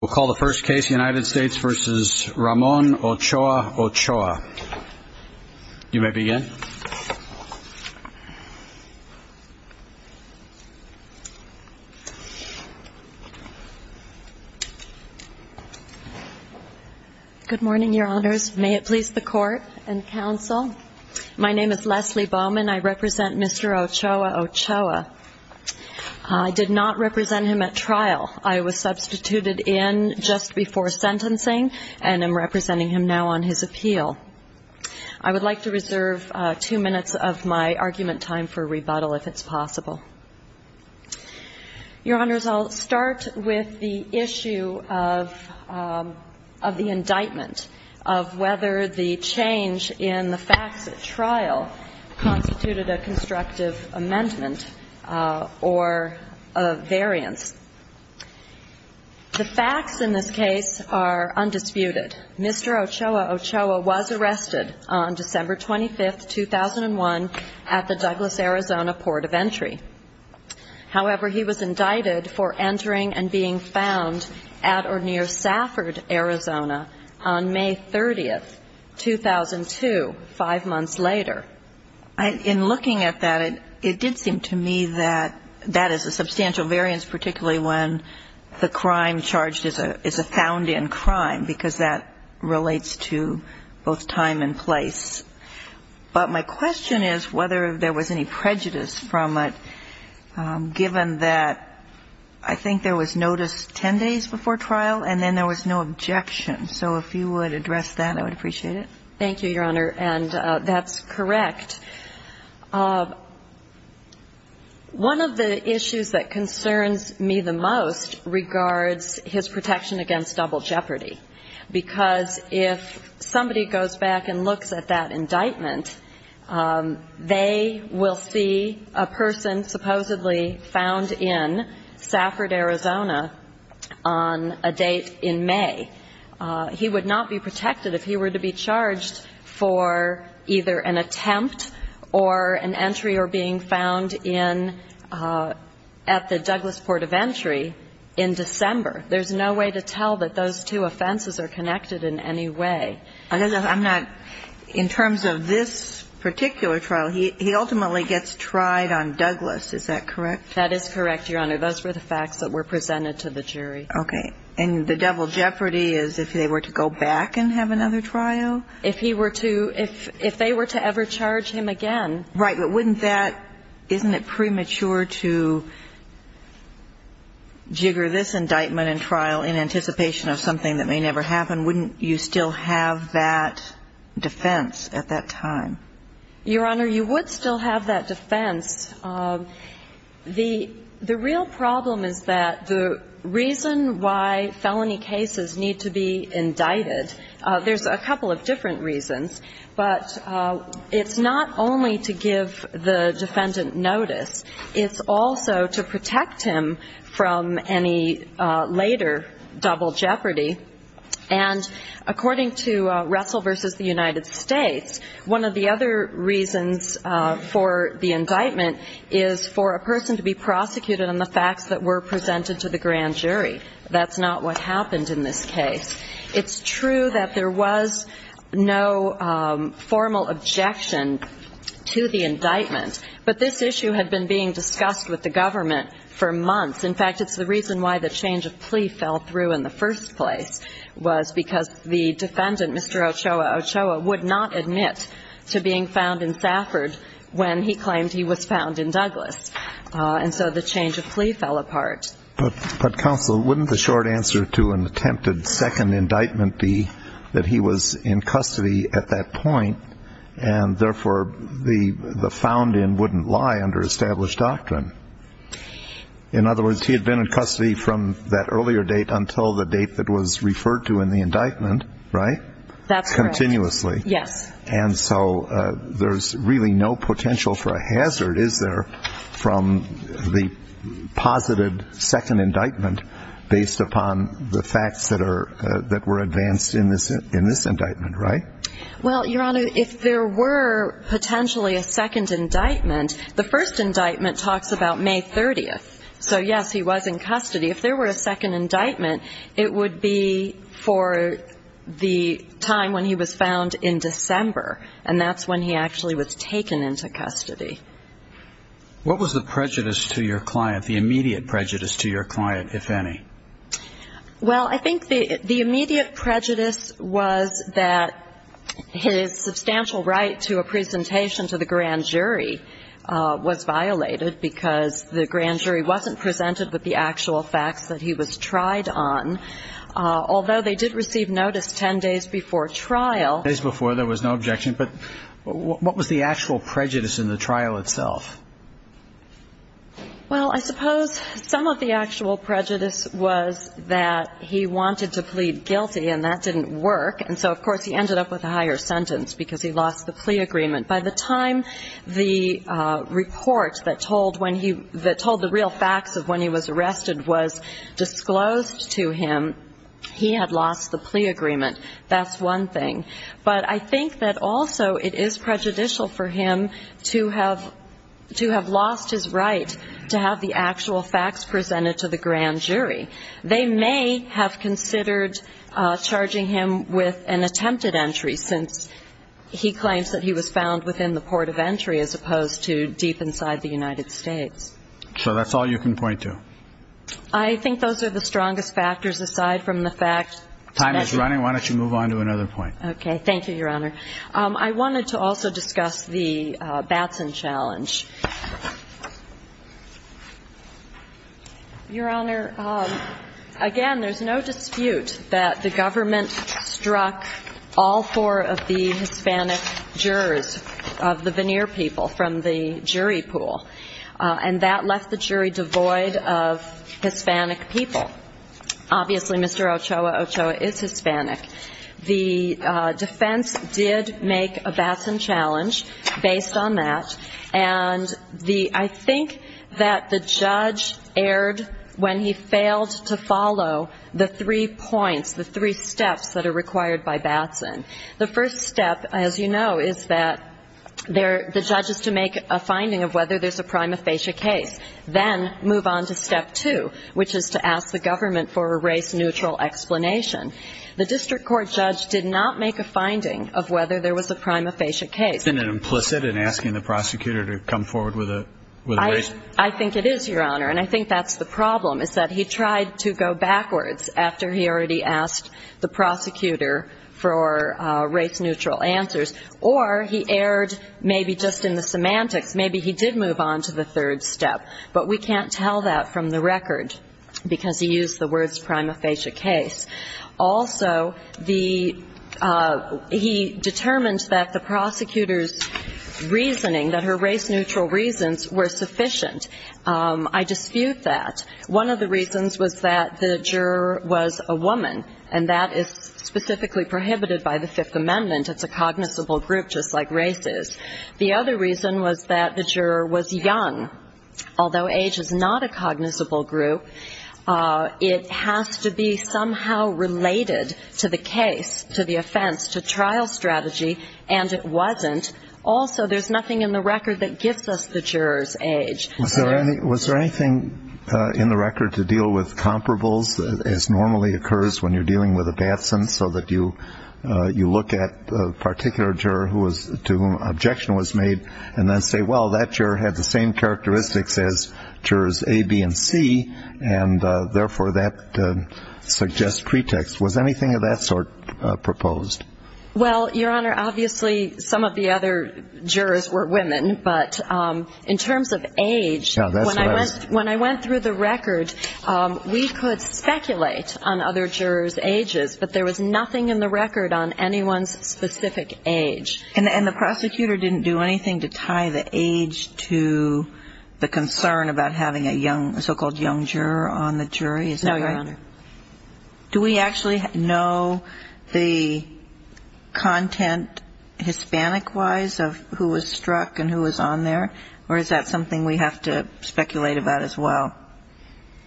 We'll call the first case United States v. Ramon Ochoa Ochoa. You may begin. Good morning, your honors. May it please the court and counsel. My name is Leslie Bowman. I represent Mr. Ochoa Ochoa. I did not represent him at trial. I was substituted in just before sentencing and am representing him now on his appeal. I would like to reserve two minutes of my argument time for rebuttal if it's possible. Your honors, I'll start with the issue of the indictment of whether the change in the facts at trial constituted a constructive amendment or a variance. The facts in this case are undisputed. Mr. Ochoa Ochoa was arrested on December 25, 2001, at the Douglas, Arizona, Port of Entry. However, he was indicted for entering and being found at or near Safford, Arizona, on May 30, 2002, five months later. In looking at that, it did seem to me that that is a substantial variance, particularly when the crime charged is a found-in crime, because that relates to both time and place. But my question is whether there was any prejudice from it, given that I think there was notice ten days before trial, and then there was no objection. So if you would address that, I would appreciate it. Thank you, Your Honor. And that's correct. One of the issues that concerns me the most regards his protection against double jeopardy, because if somebody goes back and looks at that indictment, they will see a person supposedly found in Safford, Arizona, on a date in May. He would not be protected if he were to be charged for either an attempt or an entry or being found in at the Douglas Port of Entry in December. There's no way to tell that those two offenses are connected in any way. I'm not – in terms of this particular trial, he ultimately gets tried on Douglas. Is that correct? That is correct, Your Honor. Those were the facts that were presented to the jury. Okay. And the double jeopardy is if they were to go back and have another trial? If he were to – if they were to ever charge him again. Right. But wouldn't that – isn't it premature to jigger this indictment in trial in anticipation of something that may never happen? Wouldn't you still have that defense at that time? Your Honor, you would still have that defense. The real problem is that the reason why felony cases need to be indicted – there's a couple of different reasons. But it's not only to give the defendant notice. It's also to protect him from any later double jeopardy. And according to Russell v. The United States, one of the other reasons for the indictment is for a person to be prosecuted on the facts that were presented to the grand jury. That's not what happened in this case. It's true that there was no formal objection to the indictment. But this issue had been being discussed with the government for months. In fact, it's the reason why the change of plea fell through in the first place, was because the defendant, Mr. Ochoa Ochoa, would not admit to being found in Safford when he claimed he was found in Douglas. And so the change of plea fell apart. But Counsel, wouldn't the short answer to an attempted second indictment be that he was in custody at that point and therefore the found in wouldn't lie under established doctrine? In other words, he had been in custody from that earlier date until the date that was referred to in the indictment, right? That's correct. Continuously. Yes. And so there's really no potential for a hazard, is there, from the positive second indictment based upon the facts that were advanced in this indictment, right? Well, Your Honor, if there were potentially a second indictment, the first indictment talks about May 30th. If there were a second indictment, it would be for the time when he was found in December. And that's when he actually was taken into custody. What was the prejudice to your client, the immediate prejudice to your client, if any? Well, I think the immediate prejudice was that his substantial right to a presentation to the grand jury was violated because the grand jury wasn't presented with the actual facts that he was tried on, although they did receive notice 10 days before trial. Ten days before, there was no objection. But what was the actual prejudice in the trial itself? Well, I suppose some of the actual prejudice was that he wanted to plead guilty and that didn't work. And so, of course, he ended up with a higher sentence because he lost the plea agreement. By the time the report that told the real facts of when he was arrested was disclosed to him, he had lost the plea agreement. That's one thing. But I think that also it is prejudicial for him to have lost his right to have the actual facts presented to the grand jury. They may have considered charging him with an attempted entry since he claims that he was found within the port of entry as opposed to deep inside the United States. So that's all you can point to? I think those are the strongest factors aside from the fact... Time is running. Why don't you move on to another point? Okay. Thank you, Your Honor. I wanted to also discuss the Batson challenge. Your Honor, again, there's no dispute that the government struck all four of the Hispanic jurors of the Veneer people from the jury pool. And that left the jury devoid of Hispanic people. Obviously, Mr. Ochoa, Ochoa is Hispanic. The defense did make a Batson challenge based on that. And I think that the judge erred when he failed to follow the three points, the three steps that are required by Batson. The first step, as you know, is that the judge is to make a finding of whether there's a prima facie case. Then move on to step two, which is to ask the government for a race neutral explanation. The district court judge did not make a finding of whether there was a prima facie case. Isn't it implicit in asking the prosecutor to come forward with a race neutral explanation? I think it is, Your Honor. And I think that's the problem, is that he tried to go backwards after he already asked the prosecutor for race neutral answers. Or he erred maybe just in the semantics. Maybe he did move on to the third step. But we can't tell that from the record because he used the words prima facie case. Also, he determined that the prosecutor's reasoning, that her race neutral reasons, were sufficient. I dispute that. One of the reasons was that the juror was a woman, and that is specifically prohibited by the Fifth Amendment. It's a cognizable group just like race is. The other reason was that the juror was young. Although age is not a cognizable group, it has to be somehow related to the case, to the offense, to trial strategy. And it wasn't. Also, there's nothing in the record that gives us the juror's age. Was there anything in the record to deal with comparables, as normally occurs when you're dealing with a Batson, so that you look at a particular juror to whom an objection was made and then say, well, that juror had the same characteristics as jurors A, B, and C, and therefore, that suggests pretext. Was anything of that sort proposed? Well, Your Honor, obviously, some of the other jurors were women. But in terms of age, when I went through the record, we could speculate on other jurors' ages. But there was nothing in the record on anyone's specific age. And the prosecutor didn't do anything to tie the age to the concern about having a so-called young juror on the jury? No, Your Honor. Do we actually know the content, Hispanic-wise, of who was struck and who was on there? Or is that something we have to speculate about as well?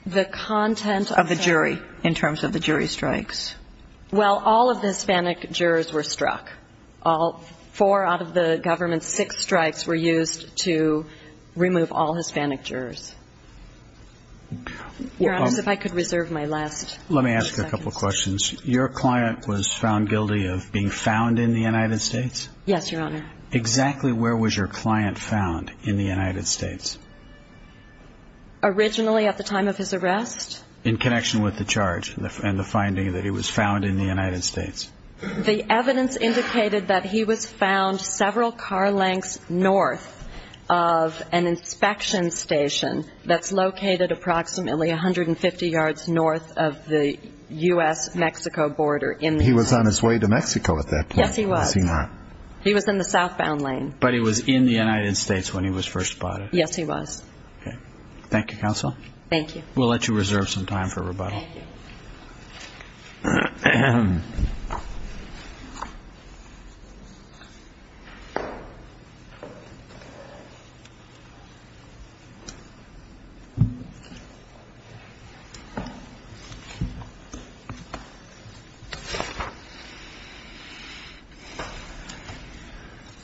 The content of the jury, in terms of the jury strikes. Well, all of the Hispanic jurors were struck. Four out of the government's six strikes were used to remove all Hispanic jurors. Your Honor, if I could reserve my last few seconds. Let me ask you a couple questions. Your client was found guilty of being found in the United States? Yes, Your Honor. Exactly where was your client found in the United States? Originally, at the time of his arrest. In connection with the charge and the finding that he was found in the United States? The evidence indicated that he was found several car lengths north of an inspection station that's located approximately 150 yards north of the U.S.-Mexico border. He was on his way to Mexico at that point? Yes, he was. He was in the southbound lane. But he was in the United States when he was first spotted? Yes, he was. Thank you, Counsel. Thank you. We'll let you reserve some time for rebuttal. Thank you.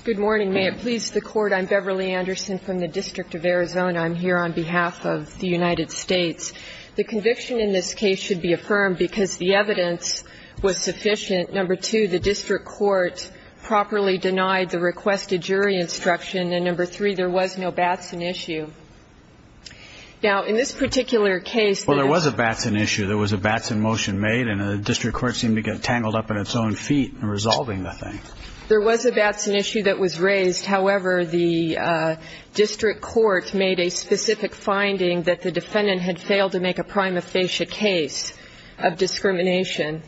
Good morning. May it please the Court. I'm Beverly Anderson from the District of Arizona. I'm here on behalf of the United States. The conviction in this case should be affirmed because the evidence was sufficient. Number two, the district court properly denied the requested jury instruction. And number three, there was no Batson issue. Now, in this particular case, there was a Batson issue. There was a Batson motion made. And the district court seemed to get tangled up in its own feet in resolving the thing. There was a Batson issue that was raised. However, the district court made a specific finding that the defendant had failed to make a prima facie case of discrimination.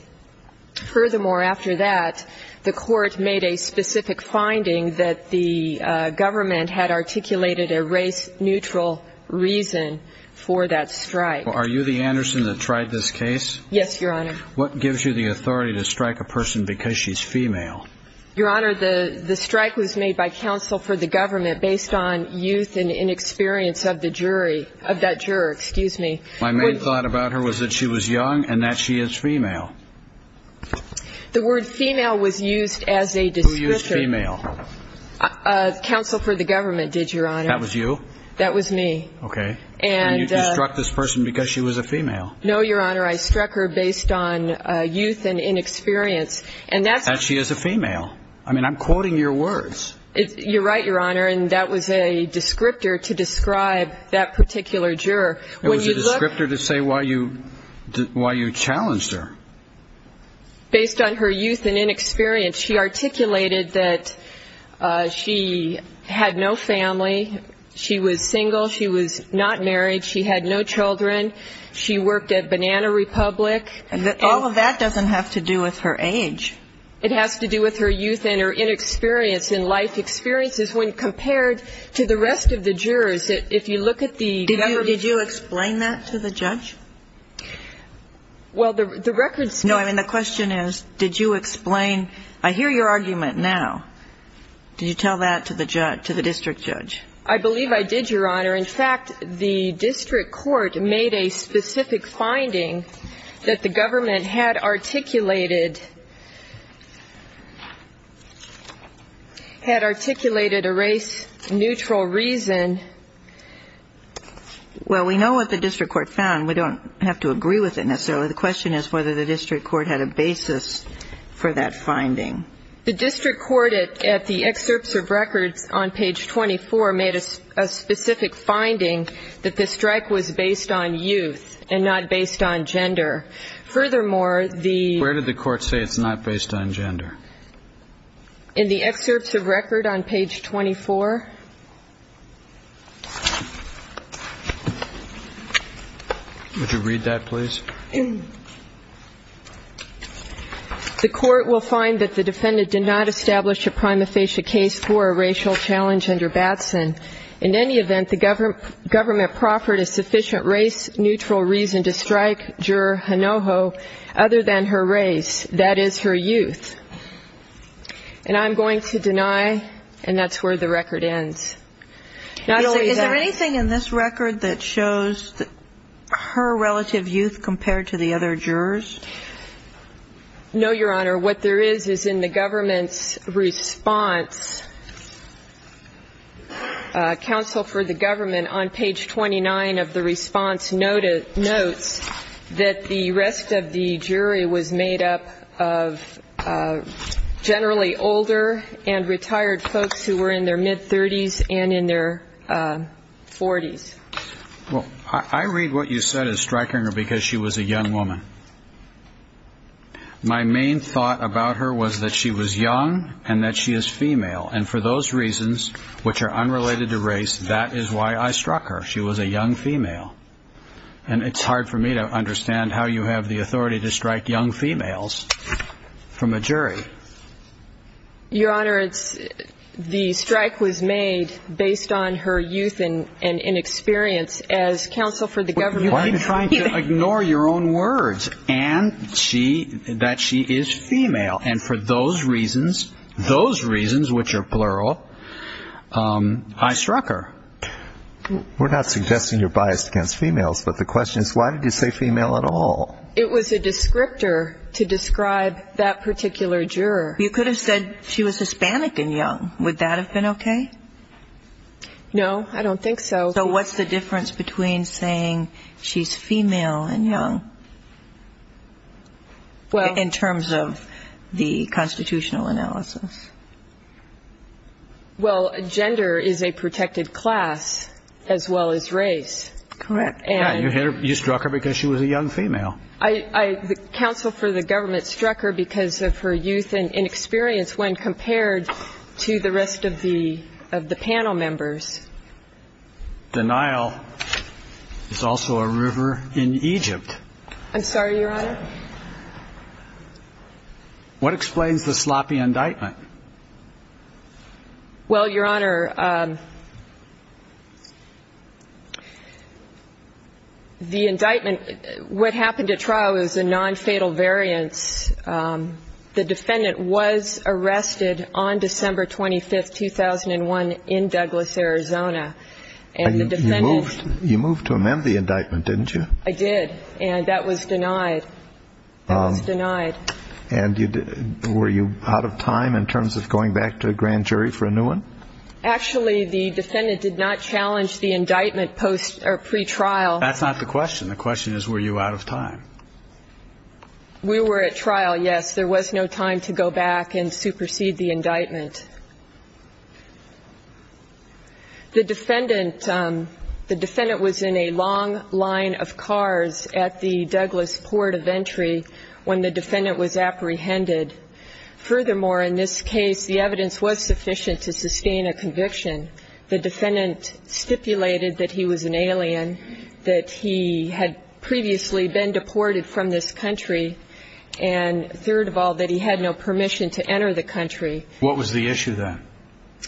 Furthermore, after that, the court made a specific finding that the government had articulated a race-neutral reason for that strike. Are you the Anderson that tried this case? Yes, Your Honor. What gives you the authority to strike a person because she's female? Your Honor, the strike was made by counsel for the government based on youth and inexperience of the jury, of that juror. Excuse me. My main thought about her was that she was young and that she is female. The word female was used as a descriptor. Who used female? Counsel for the government did, Your Honor. That was you? That was me. Okay. And you struck this person because she was a female? No, Your Honor. I struck her based on youth and inexperience. And that's... That she is a female. I mean, I'm quoting your words. You're right, Your Honor. And that was a descriptor to describe that particular juror. It was a descriptor to say why you challenged her. Based on her youth and inexperience, she articulated that she had no family. She was single. She was not married. She had no children. She worked at Banana Republic. And all of that doesn't have to do with her age. It has to do with her youth and her inexperience in life experiences when compared to the rest of the jurors. If you look at the... Did you explain that to the judge? Well, the records... No, I mean, the question is, did you explain... I hear your argument now. Did you tell that to the judge, to the district judge? I believe I did, Your Honor. In fact, the district court made a specific finding that the government had articulated a race-neutral reason. Well, we know what the district court found. We don't have to agree with it necessarily. The question is whether the district court had a basis for that finding. The district court at the excerpts of records on page 24 made a specific finding that the strike was based on youth and not based on gender. Furthermore, the... Where did the court say it's not based on gender? In the excerpts of record on page 24. Would you read that, please? The court will find that the defendant did not establish a prima facie case for a racial challenge under Batson. In any event, the government proffered a sufficient race-neutral reason to strike juror Hinojo other than her race, that is, her youth. And I'm going to deny, and that's where the record ends. Is there anything in this record that shows her relative youth compared to the other jurors? No, Your Honor. What there is is in the government's response, counsel for the government on page 29 of the response notes that the rest of the jury was made up of generally older and retired folks who were in their mid-30s and in their 40s. Well, I read what you said as striking her because she was a young woman. My main thought about her was that she was young and that she is female. And for those reasons, which are unrelated to race, that is why I struck her. She was a young female. And it's hard for me to understand how you have the authority to strike young females from a jury. Your Honor, the strike was made based on her youth and inexperience as counsel for the government. Why are you trying to ignore your own words and that she is female? And for those reasons, those reasons, which are plural, I struck her. We're not suggesting you're biased against females, but the question is why did you say female at all? It was a descriptor to describe that particular juror. You could have said she was Hispanic and young. Would that have been okay? No, I don't think so. So what's the difference between saying she's female and young in terms of the constitutional analysis? Well, gender is a protected class as well as race. Correct. You struck her because she was a young female. Counsel for the government struck her because of her youth and inexperience when compared to the rest of the panel members. Denial is also a river in Egypt. I'm sorry, Your Honor. What explains the sloppy indictment? Well, Your Honor, the indictment, what happened at trial is a non-fatal variance. The defendant was arrested on December 25th, 2001 in Douglas, Arizona. You moved to amend the indictment, didn't you? I did, and that was denied. That was denied. And were you out of time in terms of going back to a grand jury for a new one? Actually, the defendant did not challenge the indictment pre-trial. That's not the question. The question is, were you out of time? We were at trial, yes. There was no time to go back and supersede the indictment. The defendant was in a long line of cars at the Douglas port of entry when the defendant was apprehended. Furthermore, in this case, the evidence was sufficient to sustain a conviction. The defendant stipulated that he was an alien, that he had previously been deported from this country, and third of all, that he had no permission to enter the country. What was the issue then?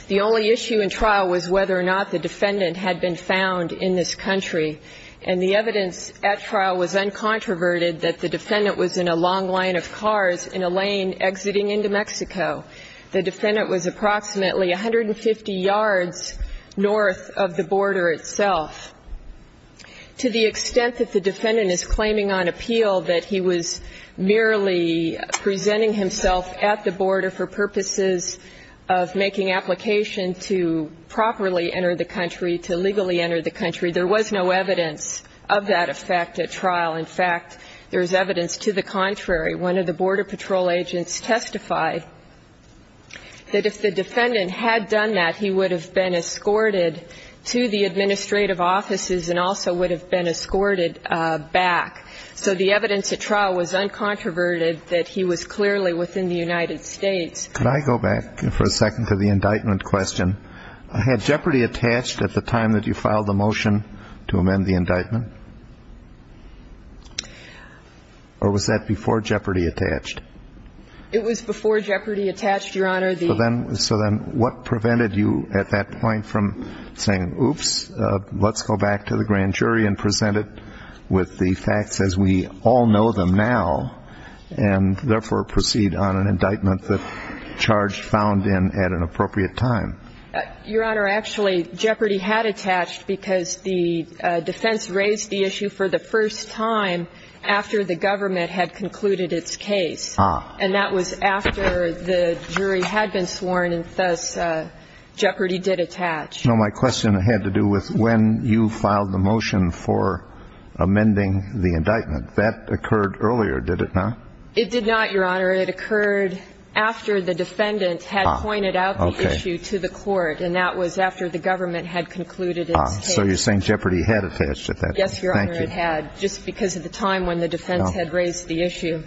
The only issue in trial was whether or not the defendant had been found in this country. And the evidence at trial was uncontroverted that the defendant was in a long line of cars in a lane exiting into Mexico. The defendant was approximately 150 yards north of the border itself. To the extent that the defendant is claiming on appeal that he was merely presenting himself at the border for purposes of making application to properly enter the country, to legally enter the country. There was no evidence of that effect at trial. In fact, there's evidence to the contrary. One of the border patrol agents testified that if the defendant had done that, he would have been escorted to the administrative offices and also would have been escorted back. So the evidence at trial was uncontroverted that he was clearly within the United States. Could I go back for a second to the indictment question? Had jeopardy attached at the time that you filed the motion to amend the indictment? Or was that before jeopardy attached? It was before jeopardy attached, Your Honor. So then what prevented you at that point from saying, oops, let's go back to the grand jury and present it with the facts as we all know them now. And therefore proceed on an indictment that charge found in at an appropriate time. Your Honor, actually, jeopardy had attached because the defense raised the issue for the first time after the government had concluded its case. And that was after the jury had been sworn, and thus jeopardy did attach. No, my question had to do with when you filed the motion for amending the indictment, that occurred earlier, did it not? It did not, Your Honor. It occurred after the defendant had pointed out the issue to the court, and that was after the government had concluded its case. So you're saying jeopardy had attached at that time. Yes, Your Honor, it had, just because of the time when the defense had raised the issue.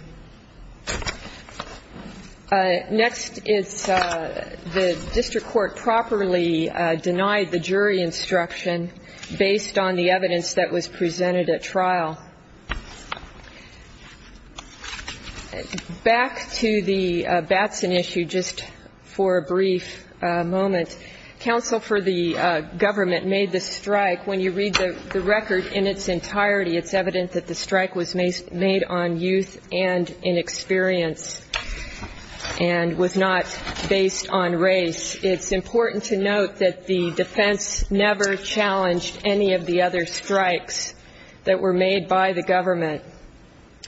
Next, it's the district court properly denied the jury instruction based on the evidence that was presented at trial. Back to the Batson issue, just for a brief moment. Counsel for the government made the strike. When you read the record in its entirety, it's evident that the strike was made on youth and inexperience, and was not based on race. It's important to note that the defense never challenged any of the other strikes that were made by the government.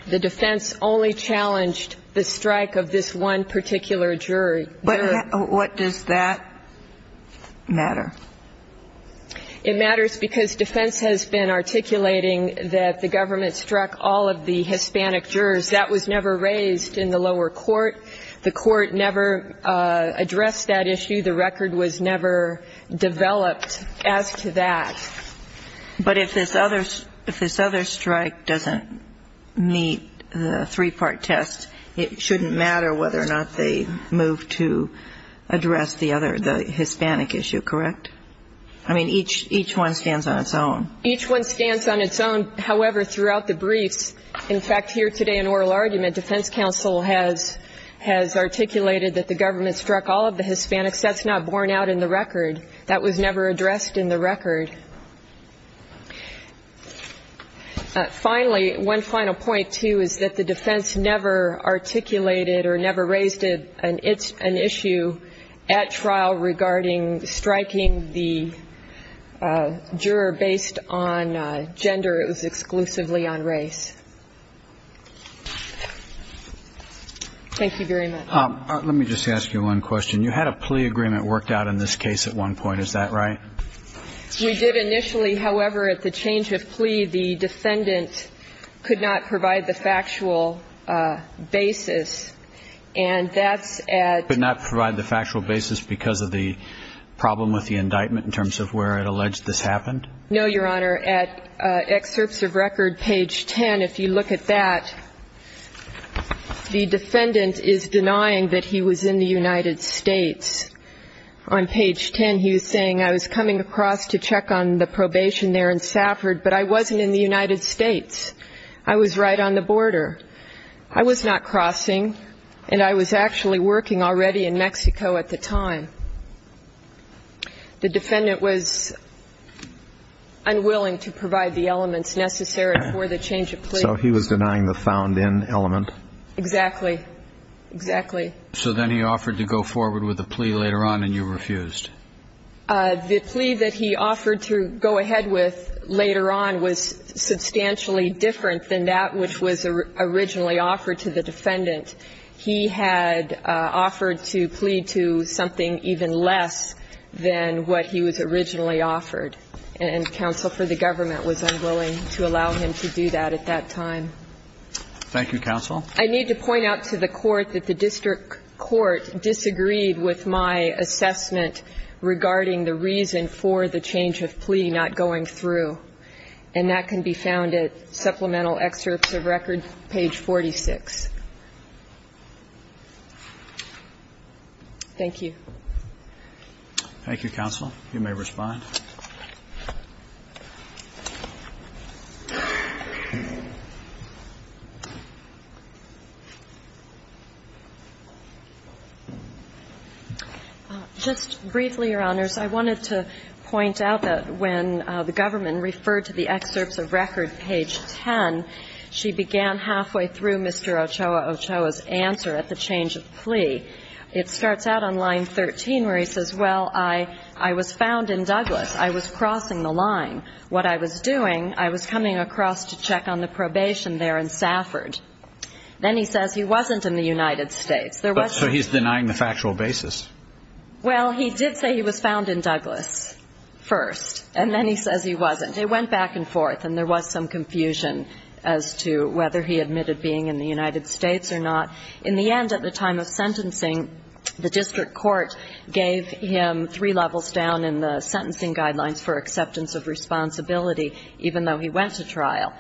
The defense only challenged the strike of this one particular jury. But what does that matter? It matters because defense has been articulating that the government struck all of the Hispanic jurors. That was never raised in the lower court. The court never addressed that issue. The record was never developed as to that. But if this other strike doesn't meet the three-part test, it shouldn't matter whether or not they move to address the Hispanic issue, correct? I mean, each one stands on its own. Each one stands on its own. However, throughout the briefs, in fact, here today in oral argument, defense counsel has articulated that the government struck all of the Hispanics. That's not borne out in the record. That was never addressed in the record. Finally, one final point, too, is that the defense never articulated or never raised an issue at trial regarding striking the juror based on gender. It was exclusively on race. Thank you very much. Let me just ask you one question. You had a plea agreement worked out in this case at one point. Is that right? We did initially. However, at the change of plea, the defendant could not provide the factual basis. And that's at- Could not provide the factual basis because of the problem with the indictment in terms of where it alleged this happened? No, Your Honor. At excerpts of record, page 10, if you look at that, the defendant is denying that he was in the United States. On page 10, he was saying, I was coming across to check on the probation there in Safford, but I wasn't in the United States. I was right on the border. I was not crossing, and I was actually working already in Mexico at the time. The defendant was unwilling to provide the elements necessary for the change of plea. So he was denying the found in element? Exactly, exactly. So then he offered to go forward with a plea later on, and you refused? The plea that he offered to go ahead with later on was substantially different than that which was originally offered to the defendant. He had offered to plead to something even less than what he was originally offered. And counsel for the government was unwilling to allow him to do that at that time. Thank you, counsel. I need to point out to the court that the district court disagreed with my assessment regarding the reason for the change of plea not going through. And that can be found at supplemental excerpts of record, page 46. Thank you. Thank you, counsel. You may respond. Just briefly, Your Honors, I wanted to point out that when the government referred to the excerpts of record, page 10, she began halfway through Mr. Ochoa Ochoa's answer at the change of plea. It starts out on line 13 where he says, well, I was found in Douglas. I was not crossing the border. I was crossing the line. What I was doing, I was coming across to check on the probation there in Safford. Then he says he wasn't in the United States. There was- So he's denying the factual basis? Well, he did say he was found in Douglas first. And then he says he wasn't. It went back and forth. And there was some confusion as to whether he admitted being in the United States or not. In the end, at the time of sentencing, the district court gave him three levels down in the sentencing guidelines for acceptance of responsibility, even though he went to trial,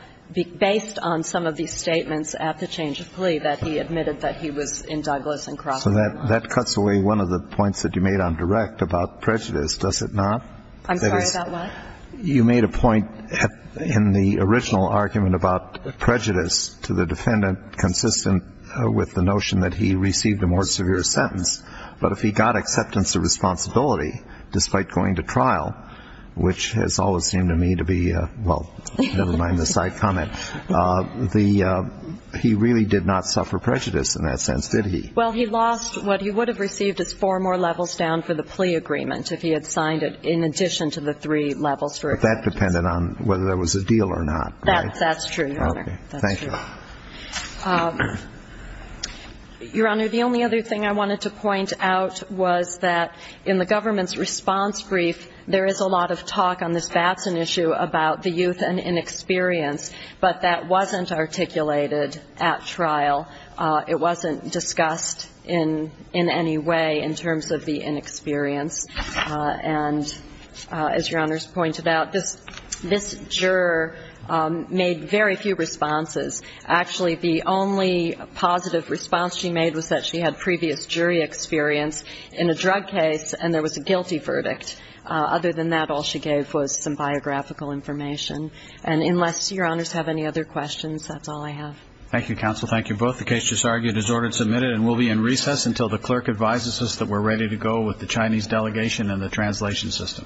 based on some of these statements at the change of plea that he admitted that he was in Douglas and crossing the line. So that cuts away one of the points that you made on direct about prejudice, does it not? I'm sorry, about what? You made a point in the original argument about prejudice to the defendant consistent with the notion that he received a more severe sentence. But if he got acceptance of responsibility, despite going to trial, which has always seemed to me to be a, well, never mind the side comment, he really did not suffer prejudice in that sense, did he? Well, he lost what he would have received as four more levels down for the plea agreement if he had signed it in addition to the three levels for acceptance. But that depended on whether there was a deal or not, right? That's true, Your Honor. Thank you. Your Honor, the only other thing I wanted to point out was that in the government's response brief, there is a lot of talk on this Batson issue about the youth and inexperience, but that wasn't articulated at trial. It wasn't discussed in any way in terms of the inexperience, and as Your Honor's pointed out, this juror made very few responses. Actually, the only positive response she made was that she had previous jury experience in a drug case, and there was a guilty verdict. Other than that, all she gave was some biographical information. And unless Your Honors have any other questions, that's all I have. Thank you, counsel. Thank you both. The case just argued is ordered submitted, and we'll be in recess until the clerk advises us that we're ready to go with the Chinese delegation and the translation system. Thank you.